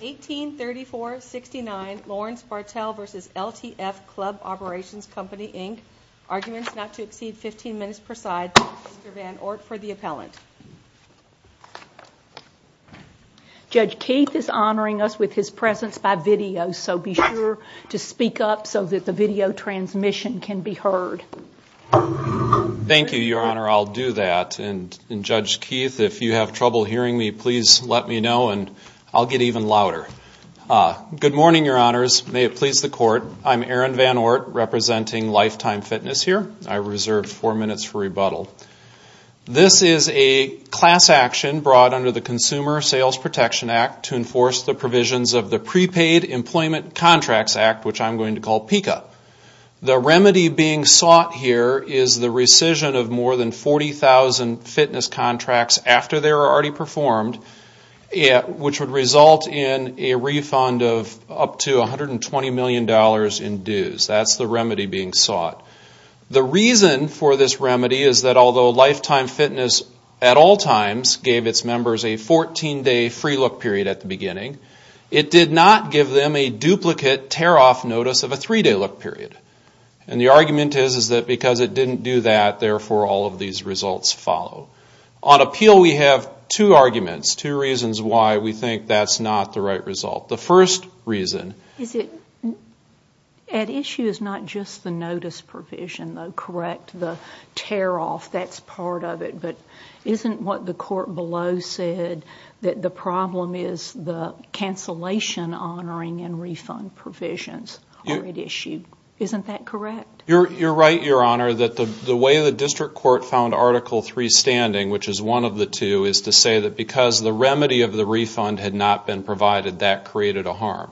1834-69 Lawrence Bartell v. LTF Club Operations Company, Inc. Arguments not to exceed 15 minutes per side. Mr. Van Oort for the appellant. Judge Keith is honoring us with his presence by video, so be sure to speak up so that the video transmission can be heard. Thank you, Your Honor. I'll do that. And Judge Keith, if you have trouble hearing me, please let me know and I'll get even louder. Good morning, Your Honors. May it please the Court. I'm Aaron Van Oort, representing Lifetime Fitness here. I reserve four minutes for rebuttal. This is a class action brought under the Consumer Sales Protection Act to enforce the provisions of the Prepaid Employment Contracts Act, which I'm going to call PICA. The remedy being sought here is the rescission of more than 40,000 fitness contracts after they were already performed, which would result in a refund of up to $120 million in dues. That's the remedy being sought. The reason for this remedy is that although Lifetime Fitness at all times gave its members a 14-day free look period at the beginning, it did not give them a duplicate tear-off notice of a three-day look period. And the argument is that because it didn't do that, therefore all of these results follow. On appeal, we have two arguments, two reasons why we think that's not the right result. The first reason... Is it...at issue is not just the notice provision, though, correct? The tear-off, that's part of it. But isn't what the court below said that the problem is the cancellation honoring and refund provisions already issued. Isn't that correct? You're right, Your Honor, that the way the district court found Article III standing, which is one of the two, is to say that because the remedy of the refund had not been provided, that created a harm.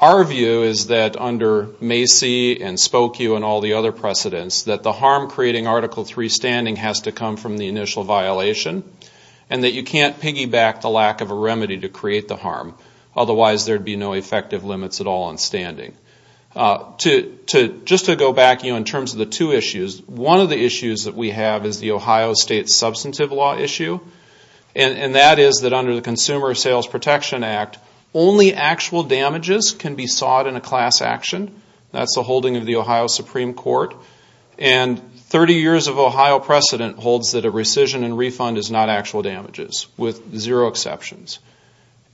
Our view is that under Macy and Spokue and all the other precedents, that the harm creating Article III standing has to come from the initial violation. And that you can't piggyback the lack of a remedy to create the harm. Otherwise, there'd be no effective limits at all on standing. Just to go back, you know, in terms of the two issues, one of the issues that we have is the Ohio State substantive law issue. And that is that under the Consumer Sales Protection Act, only actual damages can be sought in a class action. That's the holding of the Ohio Supreme Court. And 30 years of Ohio precedent holds that a rescission and refund is not actual damages, with zero exceptions.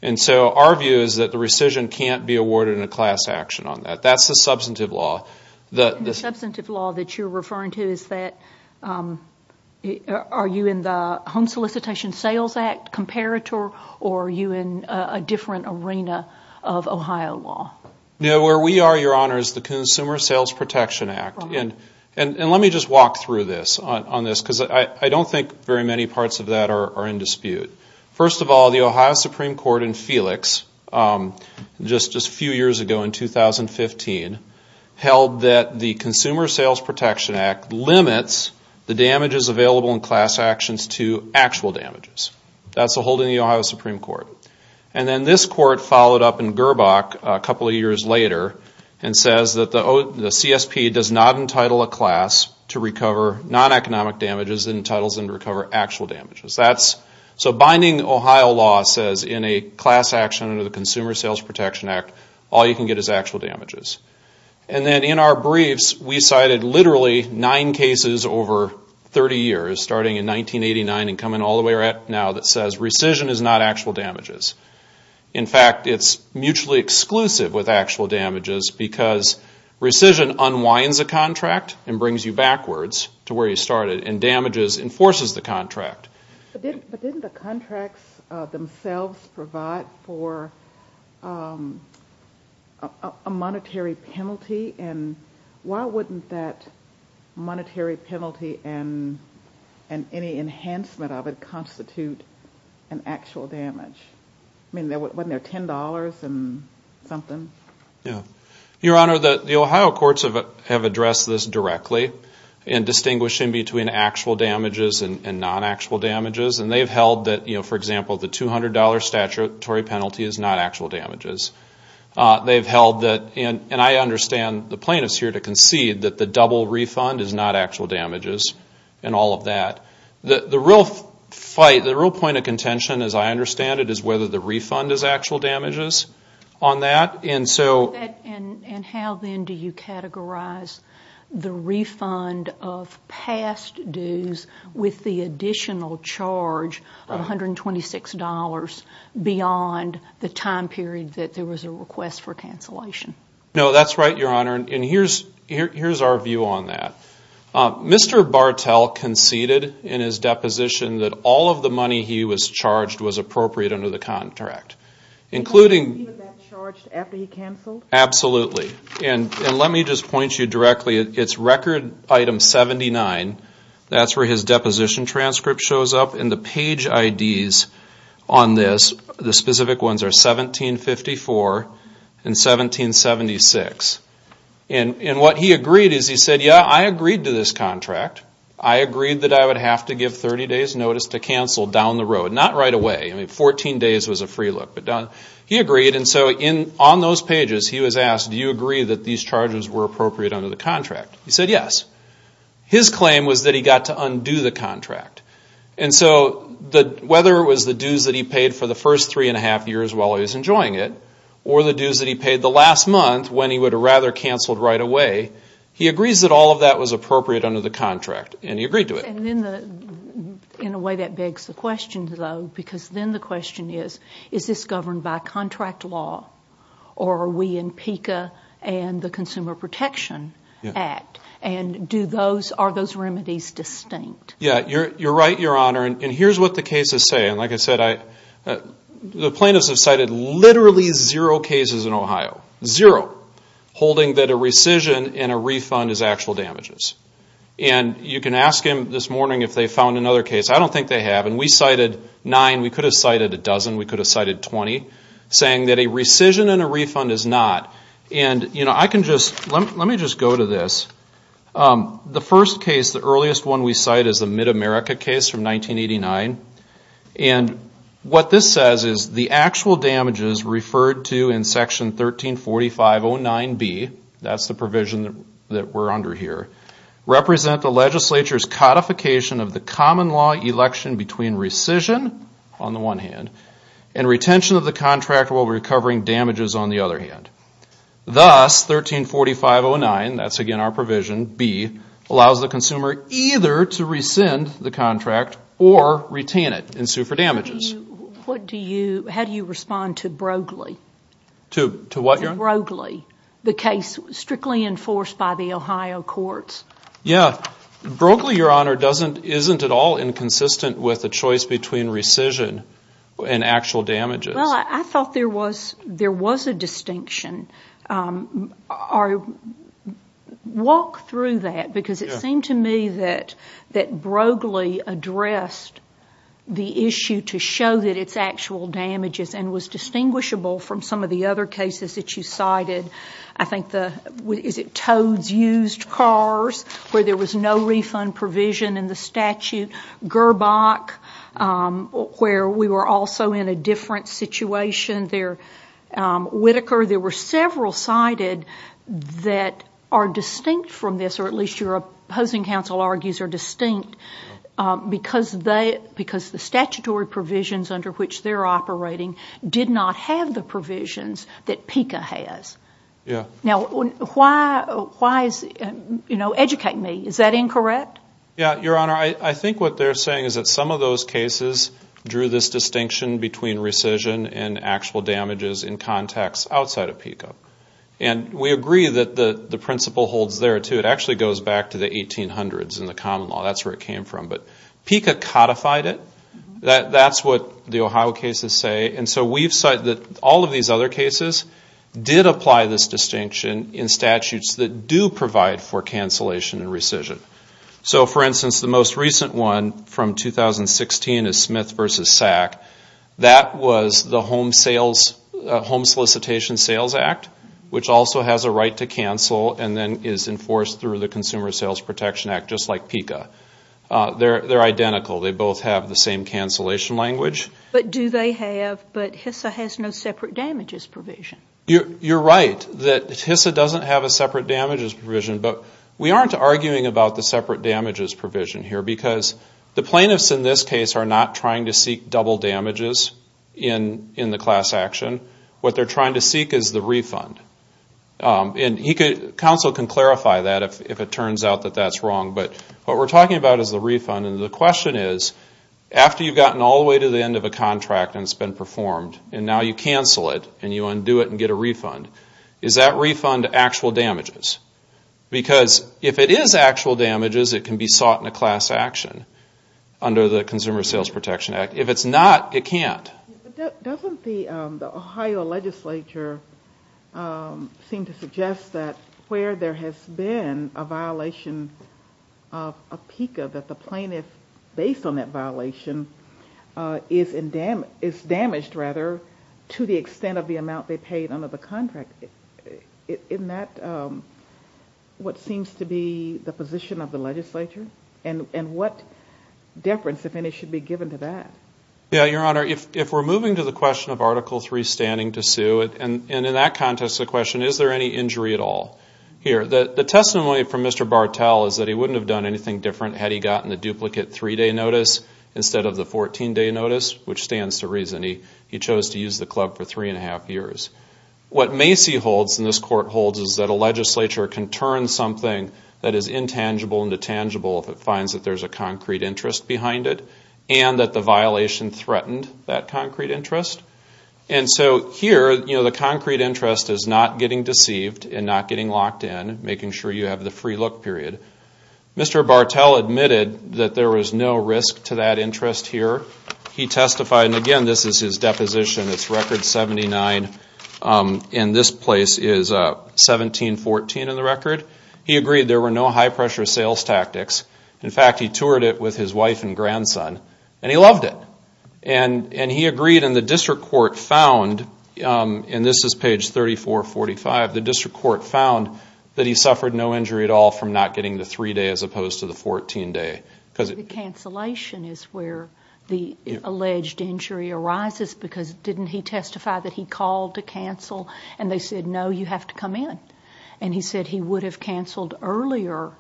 And so our view is that the rescission can't be awarded in a class action on that. That's the substantive law. The substantive law that you're referring to is that, are you in the Home Solicitation Sales Act comparator, or are you in a different arena of Ohio law? No, where we are, Your Honor, is the Consumer Sales Protection Act. And let me just walk through this, on this, because I don't think very many parts of that are in dispute. First of all, the Ohio Supreme Court in Felix, just a few years ago in 2015, held that the Consumer Sales Protection Act limits the damages available in class actions to actual damages. That's the holding of the Ohio Supreme Court. And then this court followed up in Gerbach a couple of years later, and says that the CSP does not entitle a class to recover non-economic damages, it entitles them to recover actual damages. So binding Ohio law says in a class action under the Consumer Sales Protection Act, all you can get is actual damages. And then in our briefs, we cited literally nine cases over 30 years, starting in 1989 and coming all the way up to now, that says rescission is not actual damages. In fact, it's mutually exclusive with actual damages, because rescission unwinds a contract and brings you backwards to where you started, and damages enforces the contract. But didn't the contracts themselves provide for a monetary penalty? And why wouldn't that monetary penalty and any enhancement of it constitute an actual damage? I mean, wasn't there $10 and something? Your Honor, the Ohio courts have addressed this directly, in distinguishing between actual damages and non-actual damages. And they've held that, for example, the $200 statutory penalty is not actual damages. They've held that, and I understand the plaintiffs here to concede, that the double refund is not actual damages, and all of that. The real fight, the real point of contention, as I understand it, is whether the refund is actual damages on that. And how, then, do you categorize the refund of past dues with the additional charge of $126 beyond the time period that there was a request for cancellation? No, that's right, Your Honor, and here's our view on that. Mr. Bartel conceded in his deposition that all of the money he was charged was appropriate under the contract. He was charged after he canceled? Absolutely, and let me just point you directly, it's record item 79, that's where his deposition transcript shows up, and the page IDs on this, the specific ones, are 1754 and 1776. And what he agreed is, he said, yeah, I agreed to this contract. I agreed that I would have to give 30 days notice to cancel down the road, not right away. I mean, 14 days was a free look, but he agreed. And so on those pages, he was asked, do you agree that these charges were appropriate under the contract? He said yes. His claim was that he got to undo the contract. And so whether it was the dues that he paid for the first three and a half years while he was enjoying it, or the dues that he paid the last month when he would have rather canceled right away, he agrees that all of that was appropriate under the contract, and he agreed to it. And in a way, that begs the question, though, because then the question is, is this governed by contract law, or are we in PICA and the Consumer Protection Act? And are those remedies distinct? Yeah, you're right, Your Honor, and here's what the cases say. And like I said, the plaintiffs have cited literally zero cases in Ohio, zero, holding that a rescission and a refund is actual damages. And you can ask him this morning if they found another case. I don't think they have, and we cited nine. We could have cited a dozen. We could have cited 20, saying that a rescission and a refund is not. And, you know, I can just, let me just go to this. The first case, the earliest one we cite is the Mid-America case from 1989. And what this says is the actual damages referred to in Section 134509B, that's the provision that we're under here, represent the legislature's codification of the common law election between rescission, on the one hand, and retention of the contract while recovering damages, on the other hand. Thus, 134509, that's again our provision, B, allows the consumer either to rescind the contract or retain it and sue for damages. What do you, how do you respond to Broglie? To what, Your Honor? To Broglie, the case strictly enforced by the Ohio courts? Yeah. Broglie, Your Honor, doesn't, isn't at all inconsistent with the choice between rescission and actual damages. Well, I thought there was, there was a distinction. Walk through that because it seemed to me that Broglie addressed the issue to show that it's actual damages and was distinguishable from some of the other cases that you cited. I think the, is it Toad's used cars, where there was no refund provision in the statute? Gerbach, where we were also in a different situation there. Whitaker, there were several cited that are distinct from this, or at least your opposing counsel argues are distinct, because they, because the statutory provisions under which they're operating did not have the provisions that PICA has. Yeah. Now, why, why is, you know, educate me, is that incorrect? Yeah, Your Honor, I think what they're saying is that some of those cases drew this distinction between rescission and actual damages in contexts outside of PICA. And we agree that the principle holds there, too. It actually goes back to the 1800s in the common law. That's where it came from. But PICA codified it. That's what the Ohio cases say. And so we've cited that all of these other cases did apply this distinction in statutes that do provide for cancellation and rescission. So, for instance, the most recent one from 2016 is Smith v. SAC. That was the Home Sales, Home Solicitation Sales Act, which also has a right to cancel and then is enforced through the Consumer Sales Protection Act, just like PICA. They're identical. They both have the same cancellation language. But do they have, but HISA has no separate damages provision. You're right that HISA doesn't have a separate damages provision, but we aren't arguing about the separate damages provision here, because the plaintiffs in this case are not trying to seek double damages in the class action. What they're trying to seek is the refund. And counsel can clarify that if it turns out that that's wrong. But what we're talking about is the refund. And the question is, after you've gotten all the way to the end of a contract and it's been performed, and now you cancel it and you undo it and get a refund, is that refund actual damages? Because if it is actual damages, it can be sought in a class action under the Consumer Sales Protection Act. If it's not, it can't. Doesn't the Ohio legislature seem to suggest that where there has been a violation of PICA, that the plaintiff, based on that violation, is damaged to the extent of the amount they paid under the contract. Isn't that what seems to be the position of the legislature? And what deference, if any, should be given to that? Yeah, Your Honor, if we're moving to the question of Article III standing to sue, and in that context the question, is there any injury at all? Here, the testimony from Mr. Bartell is that he wouldn't have done anything different had he gotten the duplicate three-day notice instead of the 14-day notice, which stands to reason he chose to use the club for three and a half years. What Macy holds, and this court holds, is that a legislature can turn something that is intangible into tangible if it finds that there's a concrete interest behind it, and that the violation threatened that concrete interest. And so here, the concrete interest is not getting deceived and not getting locked in, making sure you have the free look period. Mr. Bartell admitted that there was no risk to that interest here. He testified, and again, this is his deposition. It's Record 79, and this place is 1714 in the record. He agreed there were no high-pressure sales tactics. In fact, he toured it with his wife and grandson, and he loved it. And he agreed, and the district court found, and this is page 3445, the district court found that he suffered no injury at all from not getting the three-day as opposed to the 14-day. The cancellation is where the alleged injury arises, because didn't he testify that he called to cancel, and they said, no, you have to come in. And he said he would have canceled earlier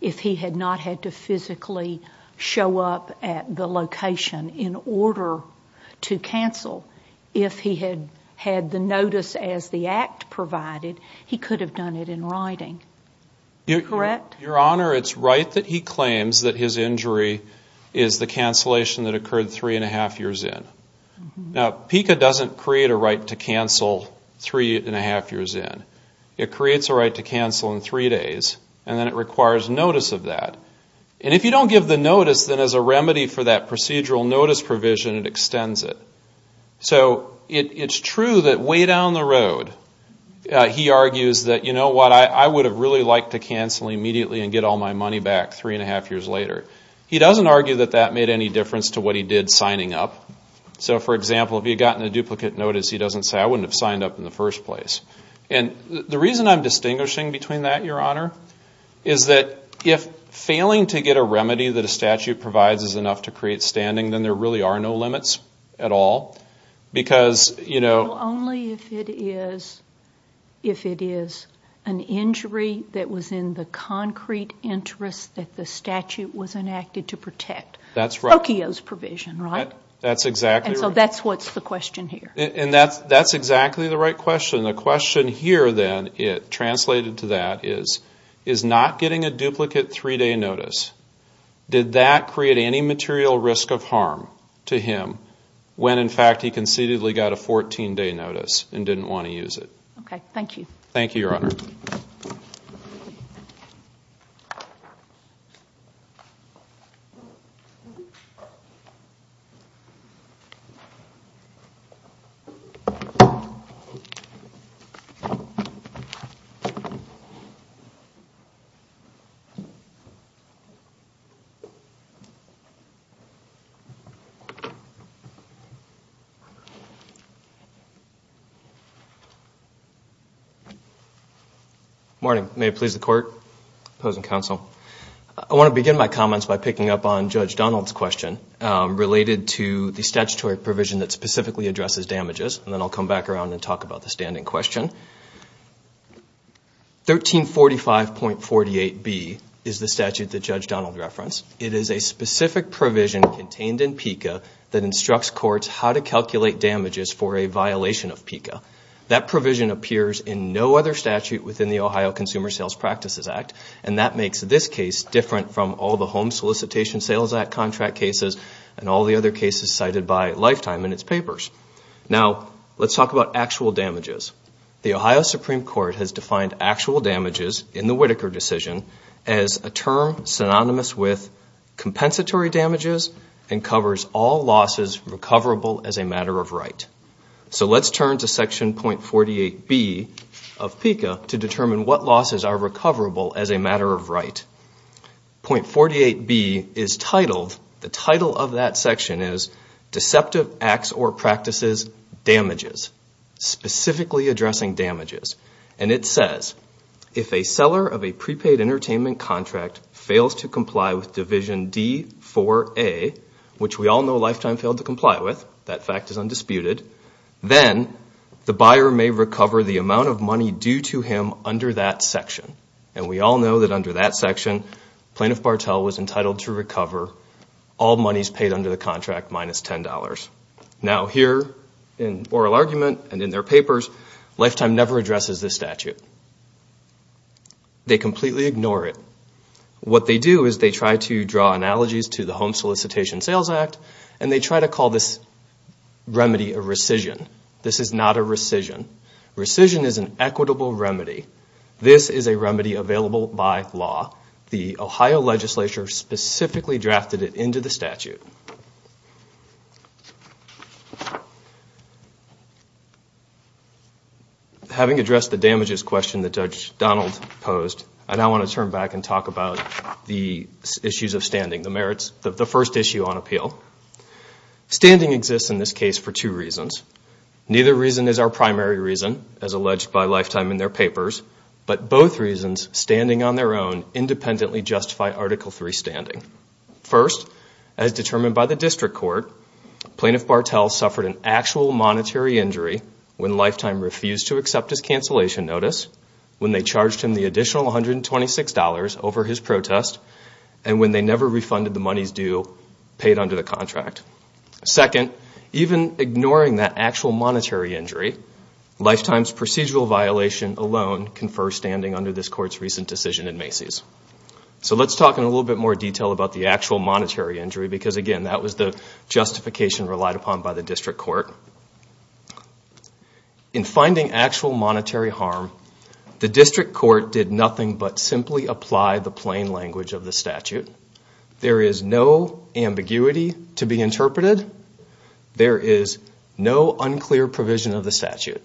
if he had not had to physically show up at the location in order to cancel. If he had had the notice as the act provided, he could have done it in writing. Correct? Your Honor, it's right that he claims that his injury is the cancellation that occurred three-and-a-half years in. Now, PICA doesn't create a right to cancel three-and-a-half years in. It creates a right to cancel in three days, and then it requires notice of that. And if you don't give the notice, then as a remedy for that procedural notice provision, it extends it. So it's true that way down the road, he argues that, you know what, I would have really liked to cancel immediately and get all my money back three-and-a-half years later. He doesn't argue that that made any difference to what he did signing up. So, for example, if he had gotten a duplicate notice, he doesn't say, I wouldn't have signed up in the first place. The reason I'm distinguishing between that, Your Honor, is that if failing to get a remedy that a statute provides is enough to create standing, then there really are no limits at all. Because, you know... Well, only if it is an injury that was in the concrete interest that the statute was enacted to protect. That's right. Okio's provision, right? That's exactly right. And so that's what's the question here. And that's exactly the right question. The question here, then, translated to that is, is not getting a duplicate three-day notice, did that create any material risk of harm to him when, in fact, he concededly got a 14-day notice and didn't want to use it? Ok, thank you. Thank you, Your Honor. Thank you. Morning. May it please the Court, Opposing Counsel. I want to begin my comments by picking up on Judge Donald's question related to the statutory provision that specifically addresses damages. And then I'll come back around and talk about the standing question. 1345.48B is the statute that Judge Donald referenced. It is a specific provision contained in PICA that instructs courts how to calculate damages for a violation of PICA. That provision appears in no other statute within the Ohio Consumer Sales Practices Act. And that makes this case different from all the Home Solicitation Sales Act contract cases and all the other cases cited by Lifetime in its papers. Now, let's talk about actual damages. The Ohio Supreme Court has defined actual damages in the Whitaker decision as a term synonymous with compensatory damages and covers all losses recoverable as a matter of right. So let's turn to Section.48B of PICA to determine what losses are recoverable as a matter of right. Point 48B is titled, the title of that section is Deceptive Acts or Practices, Damages. Specifically addressing damages. And it says, if a seller of a prepaid entertainment contract fails to comply with Division D-4A, which we all know Lifetime failed to comply with, that fact is undisputed, then the buyer may recover the amount of money due to him under that section. And we all know that under that section, Plaintiff Bartell was entitled to recover all monies paid under the contract minus $10. Now here, in oral argument and in their papers, Lifetime never addresses this statute. They completely ignore it. What they do is they try to draw analogies to the Home Solicitation Sales Act and they try to call this remedy a rescission. This is not a rescission. Rescission is an equitable remedy. This is a remedy available by law. The Ohio legislature specifically drafted it into the statute. Having addressed the damages question that Judge Donald posed, I now want to turn back and talk about the issues of standing. The first issue on appeal. Standing exists in this case for two reasons. Neither reason is our primary reason, as alleged by Lifetime in their papers, but both reasons, standing on their own, independently justify Article III standing. First, as determined by the district court, Plaintiff Bartell suffered an actual monetary injury when Lifetime refused to accept his cancellation notice, when they charged him the additional $126 over his protest, and when they never refunded the monies due, paid under the contract. Second, even ignoring that actual monetary injury, Lifetime's procedural violation alone confers standing under this court's recent decision in Macy's. So let's talk in a little bit more detail about the actual monetary injury, because again, that was the justification relied upon by the district court. In finding actual monetary harm, the district court did nothing but simply apply the plain language of the statute. There is no ambiguity to be interpreted. There is no unclear provision of the statute.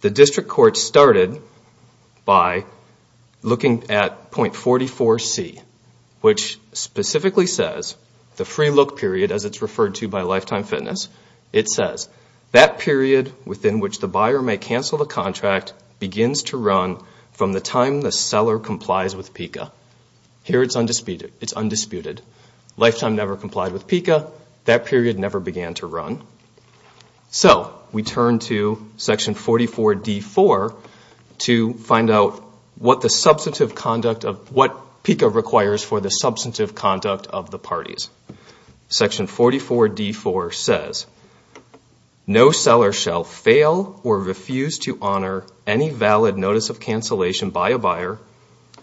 The district court started by looking at point 44C, which specifically says, the free look period, as it's referred to by Lifetime Fitness, it says, that period within which the buyer may cancel the contract begins to run from the time the seller complies with PICA. Here it's undisputed. Lifetime never complied with PICA. That period never began to run. So, we turn to section 44D4 to find out what the substantive conduct of, what PICA requires for the substantive conduct of the parties. Section 44D4 says, no seller shall fail or refuse to honor any valid notice of cancellation by a buyer,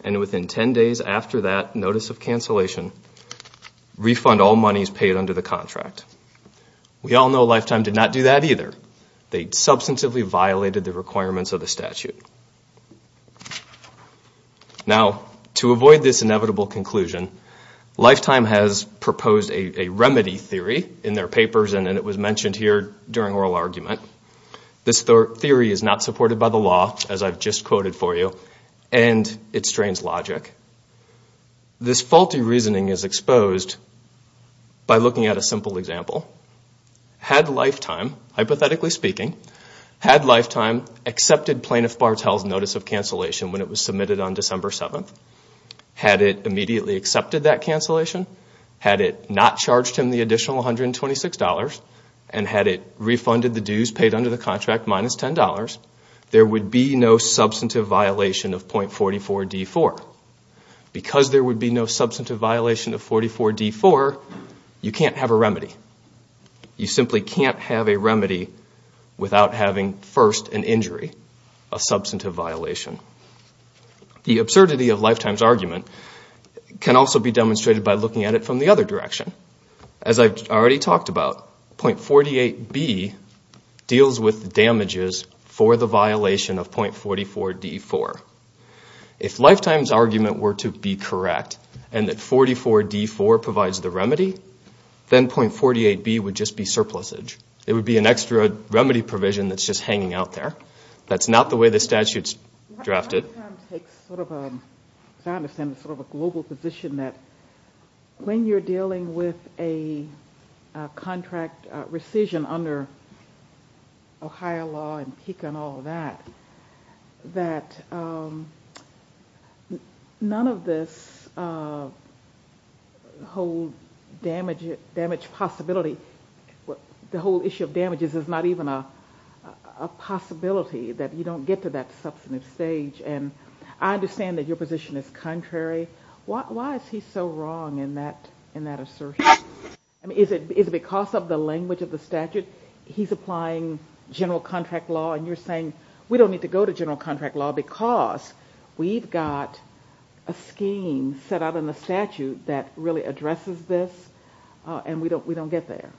and within 10 days after that notice of cancellation, refund all monies paid under the contract. We all know Lifetime did not do that either. They substantively violated the requirements of the statute. Now, to avoid this inevitable conclusion, Lifetime has proposed a remedy theory in their papers, and it was mentioned here during oral argument. This theory is not supported by the law, as I've just quoted for you, and it strains logic. This faulty reasoning is exposed by looking at a simple example. Had Lifetime, hypothetically speaking, had Lifetime accepted Plaintiff Bartell's notice of cancellation when it was submitted on December 7th, had it immediately accepted that cancellation, had it not charged him the additional $126, and had it refunded the dues paid under the contract minus $10, there would be no substantive violation of point 44D4. Because there would be no substantive violation of 44D4, you can't have a remedy. You simply can't have a remedy without having first an injury, a substantive violation. The absurdity of Lifetime's argument can also be demonstrated by looking at it from the other direction. As I've already talked about, point 48B deals with damages for the violation of point 44D4. If Lifetime's argument were to be correct, and that 44D4 provides the remedy, then point 48B would just be surplusage. It would be an extra remedy provision that's just hanging out there. That's not the way the statute's drafted. I understand it's sort of a global position that when you're dealing with a contract rescission under Ohio law and PICA and all of that, that none of this whole damage possibility, the whole issue of damages is not even a possibility that you don't get to that substantive stage. I understand that your position is contrary. Why is he so wrong in that assertion? Is it because of the language of the statute? He's applying general contract law, and you're saying we don't need to go to general contract law because we've got a scheme set out in the statute that really addresses this, and we don't get there.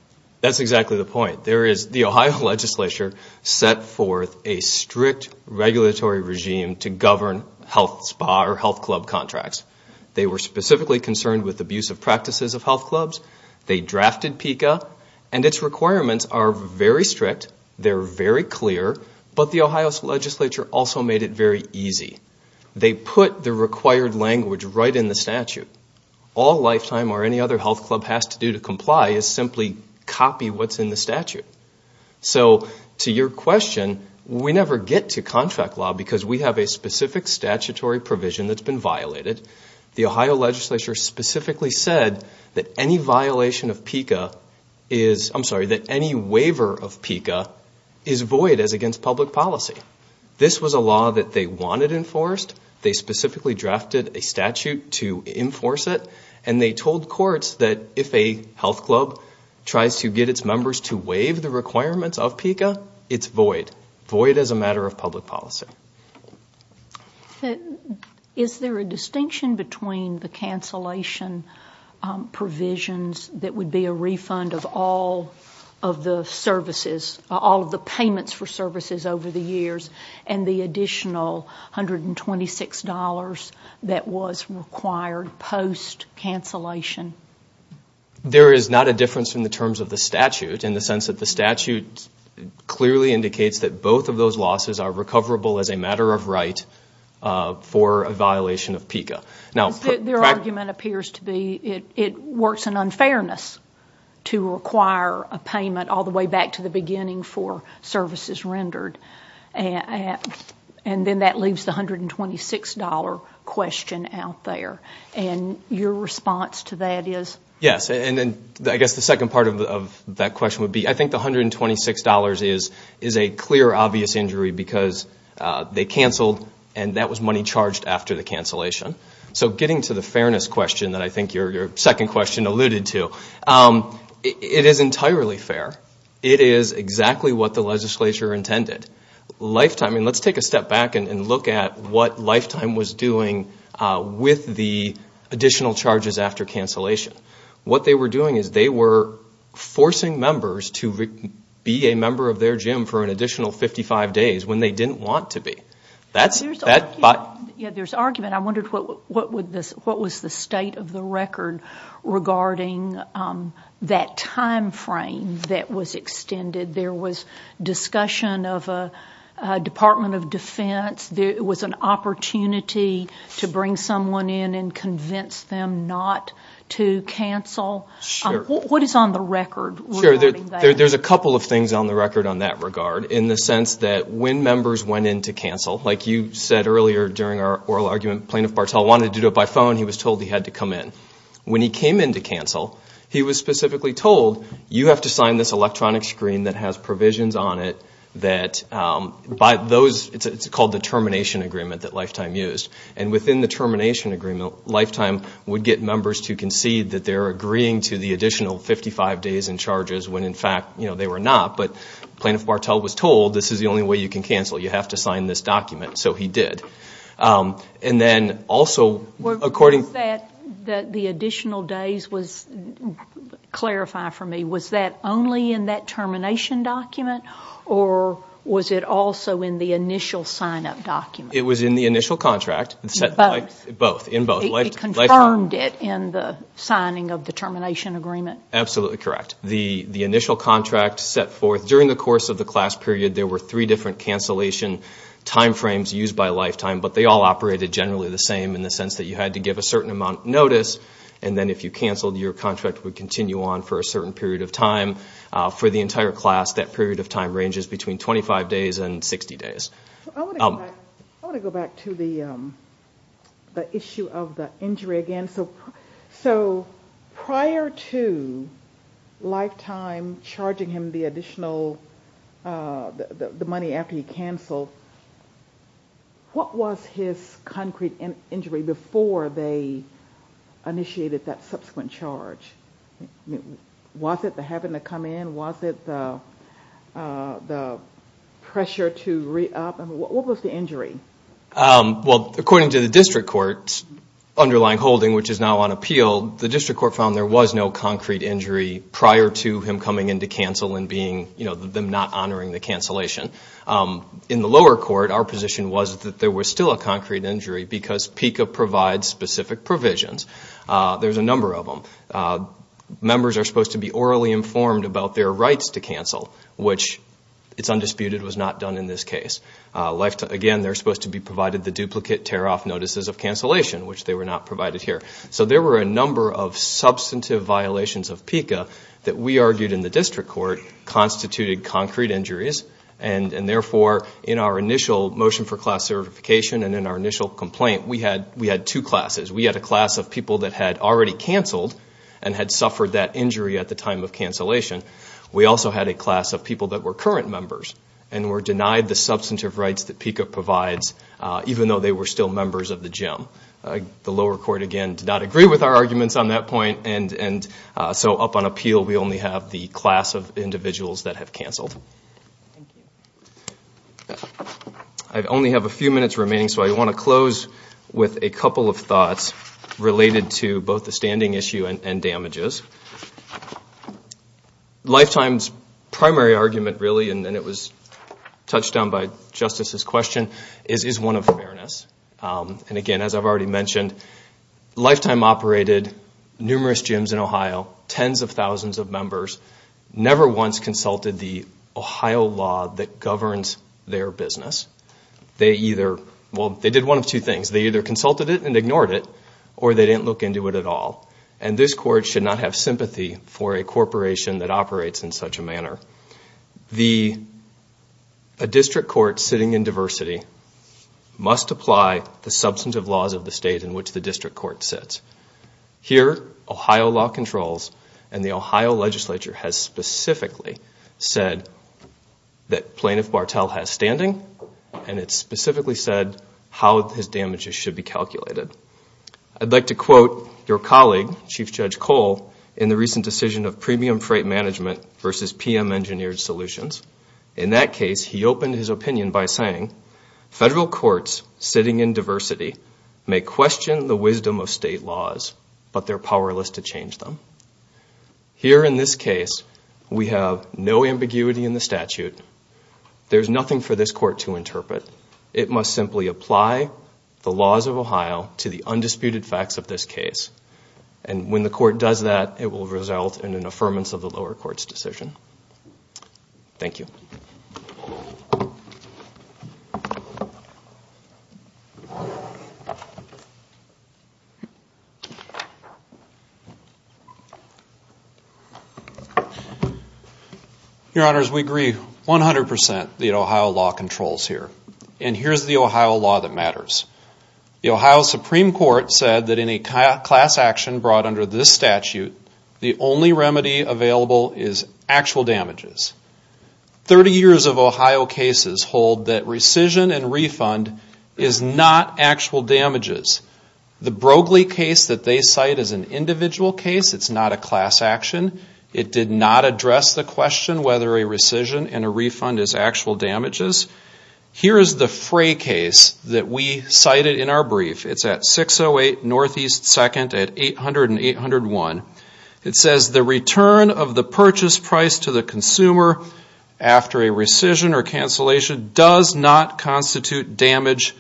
That's exactly the point. The Ohio legislature set forth a strict regulatory regime to govern health spa or health club contracts. They were specifically concerned with abusive practices of health clubs. They drafted PICA, and its requirements are very strict. They're very clear, but the Ohio legislature also made it very easy. They put the required language right in the statute. All Lifetime or any other health club has to do to comply is simply copy what's in the statute. So to your question, we never get to contract law because we have a specific statutory provision that's been violated. The Ohio legislature specifically said that any waiver of PICA is void as against public policy. This was a law that they wanted enforced. They specifically drafted a statute to enforce it, and they told courts that if a health club tries to get its members to waive the requirements of PICA, it's void, void as a matter of public policy. Is there a distinction between the cancellation provisions that would be a refund of all of the services, all of the payments for services over the years, and the additional $126 that was required post-cancellation? There is not a difference in the terms of the statute in the sense that the statute clearly indicates that both of those losses are recoverable as a matter of right for a violation of PICA. Their argument appears to be it works in unfairness to require a payment all the way back to the beginning for services rendered, and then that leaves the $126 question out there. Your response to that is? Yes. I guess the second part of that question would be I think the $126 is a clear, obvious injury because they canceled, and that was money charged after the cancellation. So getting to the fairness question that I think your second question alluded to, it is entirely fair. It is exactly what the legislature intended. Let's take a step back and look at what Lifetime was doing with the additional charges after cancellation. What they were doing is they were forcing members to be a member of their gym for an additional 55 days when they didn't want to be. There's argument. I wondered what was the state of the record regarding that time frame that was extended. There was discussion of a Department of Defense. There was an opportunity to bring someone in and convince them not to cancel. What is on the record regarding that? There's a couple of things on the record on that regard in the sense that when members went in to cancel, like you said earlier during our oral argument, Plaintiff Bartel wanted to do it by phone. He was told he had to come in. When he came in to cancel, he was specifically told, you have to sign this electronic screen that has provisions on it. It's called the termination agreement that Lifetime used. Within the termination agreement, Lifetime would get members to concede that they're agreeing to the additional 55 days in charges when in fact they were not, but Plaintiff Bartel was told this is the only way you can cancel. You have to sign this document. So he did. Was that the additional days, clarify for me, was that only in that termination document or was it also in the initial sign-up document? It was in the initial contract. Both. It confirmed it in the signing of the termination agreement? Absolutely correct. The initial contract set forth during the course of the class period, there were three different cancellation timeframes used by Lifetime, but they all operated generally the same in the sense that you had to give a certain amount of notice and then if you canceled, your contract would continue on for a certain period of time. For the entire class, that period of time ranges between 25 days and 60 days. I want to go back to the issue of the injury again. So prior to Lifetime charging him the money after he canceled, what was his concrete injury before they initiated that subsequent charge? Was it the having to come in? Was it the pressure to re-up? What was the injury? Well, according to the district court's underlying holding, which is now on appeal, the district court found there was no concrete injury prior to him coming in to cancel and them not honoring the cancellation. In the lower court, our position was that there was still a concrete injury because PICA provides specific provisions. There's a number of them. Members are supposed to be orally informed about their rights to cancel, which it's undisputed was not done in this case. Again, they're supposed to be provided the duplicate tear-off notices of cancellation, which they were not provided here. So there were a number of substantive violations of PICA that we argued in the district court that constituted concrete injuries. And therefore, in our initial motion for class certification and in our initial complaint, we had two classes. We had a class of people that had already canceled and had suffered that injury at the time of cancellation. We also had a class of people that were current members and were denied the substantive rights that PICA provides, even though they were still members of the gym. The lower court, again, did not agree with our arguments on that point. So up on appeal, we only have the class of individuals that have canceled. I only have a few minutes remaining, so I want to close with a couple of thoughts related to both the standing issue and damages. Lifetime's primary argument, really, and it was touched on by Justice's question, is one of fairness. And again, as I've already mentioned, Lifetime operated numerous gyms in Ohio, tens of thousands of members, never once consulted the Ohio law that governs their business. They either, well, they did one of two things. They either consulted it and ignored it, or they didn't look into it at all. And this court should not have sympathy for a corporation that operates in such a manner. A district court sitting in diversity must apply the substantive laws of the state in which the district court sits. Here, Ohio law controls, and the Ohio legislature has specifically said that Plaintiff Bartell has standing, and it's specifically said how his damages should be calculated. I'd like to quote your colleague, Chief Judge Cole, in the recent decision of Premium Freight Management versus PM Engineered Solutions. In that case, he opened his opinion by saying, federal courts sitting in diversity may question the wisdom of state law but they're powerless to change them. Here in this case, we have no ambiguity in the statute. There's nothing for this court to interpret. It must simply apply the laws of Ohio to the undisputed facts of this case. And when the court does that, it will result in an affirmance of the lower court's decision. Thank you. Your Honors, we agree 100% that Ohio law controls here. And here's the Ohio law that matters. The Ohio Supreme Court said that any class action brought under this statute, the only remedy available is actual damages. 30 years of Ohio cases hold that rescission and refund is not actual damages. The Broglie case that's been brought up is a case that they cite as an individual case. It's not a class action. It did not address the question whether a rescission and a refund is actual damages. Here is the Frey case that we cited in our brief. It's at 608 NE 2nd at 800-801. It says the return of the purchase price to the consumer after a rescission or cancellation does not constitute damage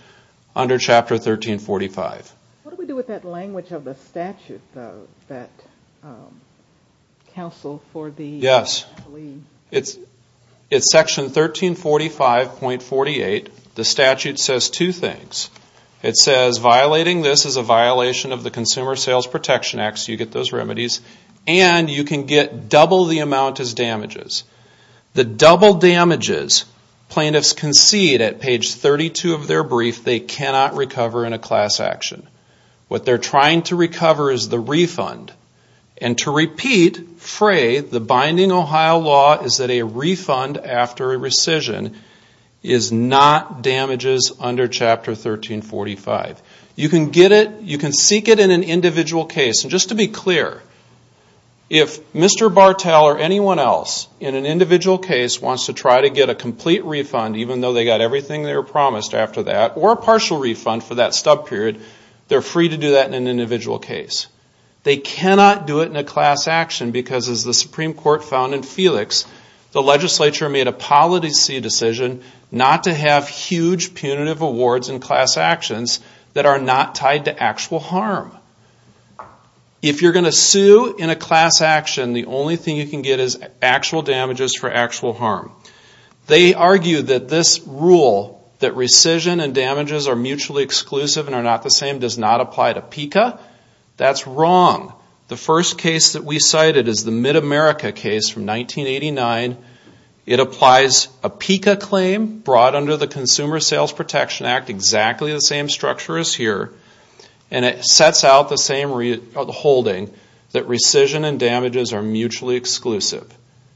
under Chapter 1345. What do we do with that language of the statute though? That counsel for the... Yes. It's Section 1345.48. The statute says two things. It says violating this is a violation of the Consumer Sales Protection Act. So you get those remedies. And you can get double the amount as damages. The double damages plaintiffs concede at page 32 of their brief they cannot recover in a class action. What they're trying to recover is the refund. And to repeat Frey, the binding Ohio law is that a refund after a rescission is not damages under Chapter 1345. You can get it, you can seek it in an individual case. And just to be clear, if Mr. Bartel or anyone else in an individual case wants to try to get a complete refund even though they got everything they were promised after that or a partial refund they're free to do that in an individual case. They cannot do it in a class action because as the Supreme Court found in Felix the legislature made a policy decision not to have huge punitive awards in class actions that are not tied to actual harm. If you're going to sue in a class action the only thing you can get is actual damages for actual harm. They argue that this rule that rescission and damages are mutually exclusive cannot apply to PICA. That's wrong. The first case that we cited is the Mid-America case from 1989. It applies a PICA claim brought under the Consumer Sales Protection Act exactly the same structure as here and it sets out the same holding that rescission and damages are mutually exclusive.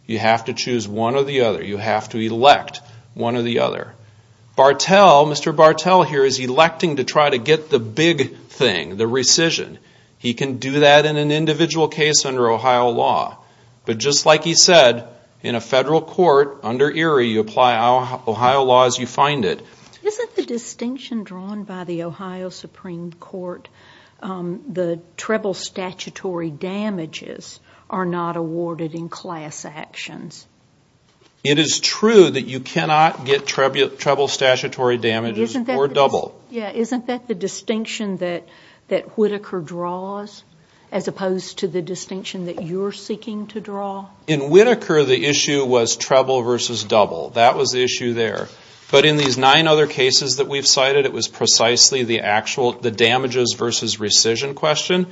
You have to choose one or the other. You have to elect one or the other. Mr. Bartel here is electing to try to get the big thing, the rescission. He can do that in an individual case under Ohio law. But just like he said in a federal court under Erie you apply Ohio law as you find it. Isn't the distinction drawn by the Ohio Supreme Court the treble statutory damages are not awarded in class actions? It is true that you cannot get treble statutory damages or double. Isn't that the distinction that Whitaker draws as opposed to the distinction that you're seeking to draw? In Whitaker the issue was treble versus double. That was the issue there. But in these nine other cases that we've cited it was precisely the damages versus rescission question.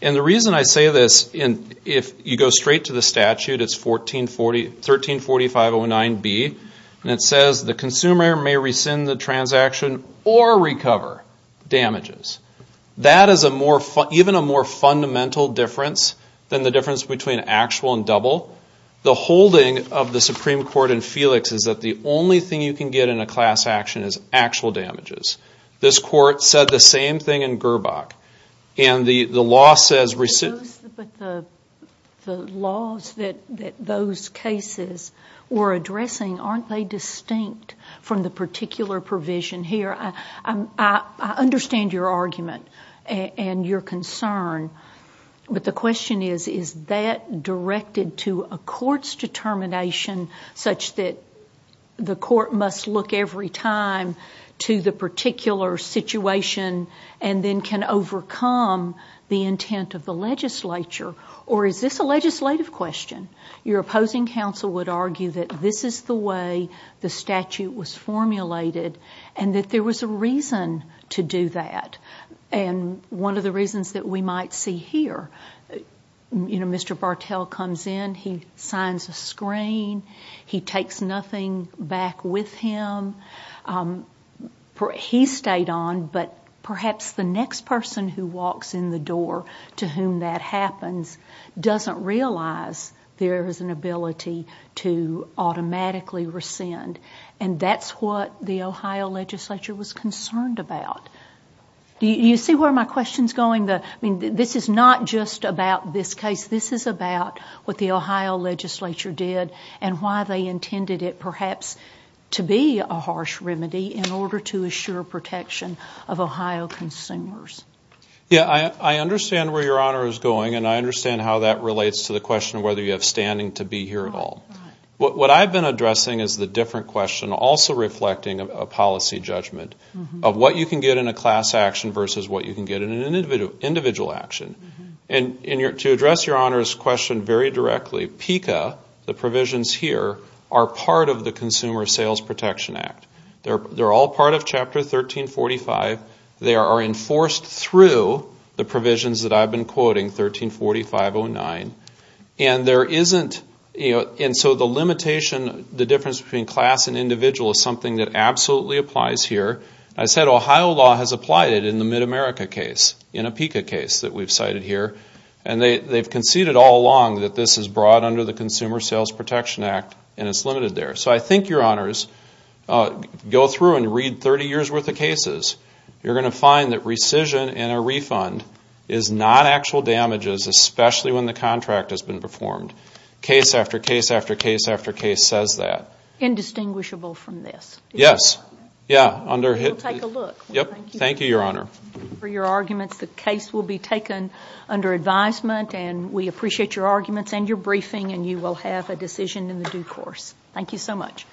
The reason I say this if you go straight to the statute it's 134509B and it says the consumer damages. That is a more even a more fundamental difference than the difference between actual and double. The holding of the Supreme Court in Felix is that the only thing you can get in a class action is actual damages. This court said the same thing in Gerbach. And the law says The laws that those cases were addressing aren't they distinct from the particular provision here? I understand your argument and your concern. But the question is is that directed to a court's determination such that the court must look every time to the particular situation and then can overcome the intent of the legislature? Or is this a legislative question? Your opposing counsel would argue that this is the way the statute was formulated and that there was a reason to do that. And one of the reasons that we might see here you know Mr. Bartell comes in he signs a screen he takes nothing back with him. He stayed on but perhaps the next person who walks in the door to whom that happens doesn't realize there is an ability to automatically rescind. And that's what you see where my question is going? This is not just about this case. This is about what the Ohio legislature did and why they intended it perhaps to be a harsh remedy in order to assure protection of Ohio consumers. Yeah I understand where your honor is going and I understand how that relates to the question of whether you have standing to be here at all. What I've been addressing is the different question also reflecting a policy judgment of what you can get in a class action versus what you can get in an individual action. And to address your honor's question very directly PICA, the provisions here are part of the Consumer Sales Protection Act. They're all part of chapter 1345. They are enforced through the provisions that I've been quoting 1345-09 and there isn't and so the limitation the difference between class and individual is something that absolutely applies here. I said Ohio law has applied it in the Mid-America case in a PICA case that we've cited here and they've conceded all along that this is brought under the Consumer Sales Protection Act and it's limited there. So I think your honors go through and read 30 years worth of cases. You're going to find that rescission and a refund is not actual damages from this. We'll take a look. Thank you your honor. For your arguments the case will be taken under advisement and we appreciate your arguments and your briefing and you will have a decision in the due course. Thank you so much.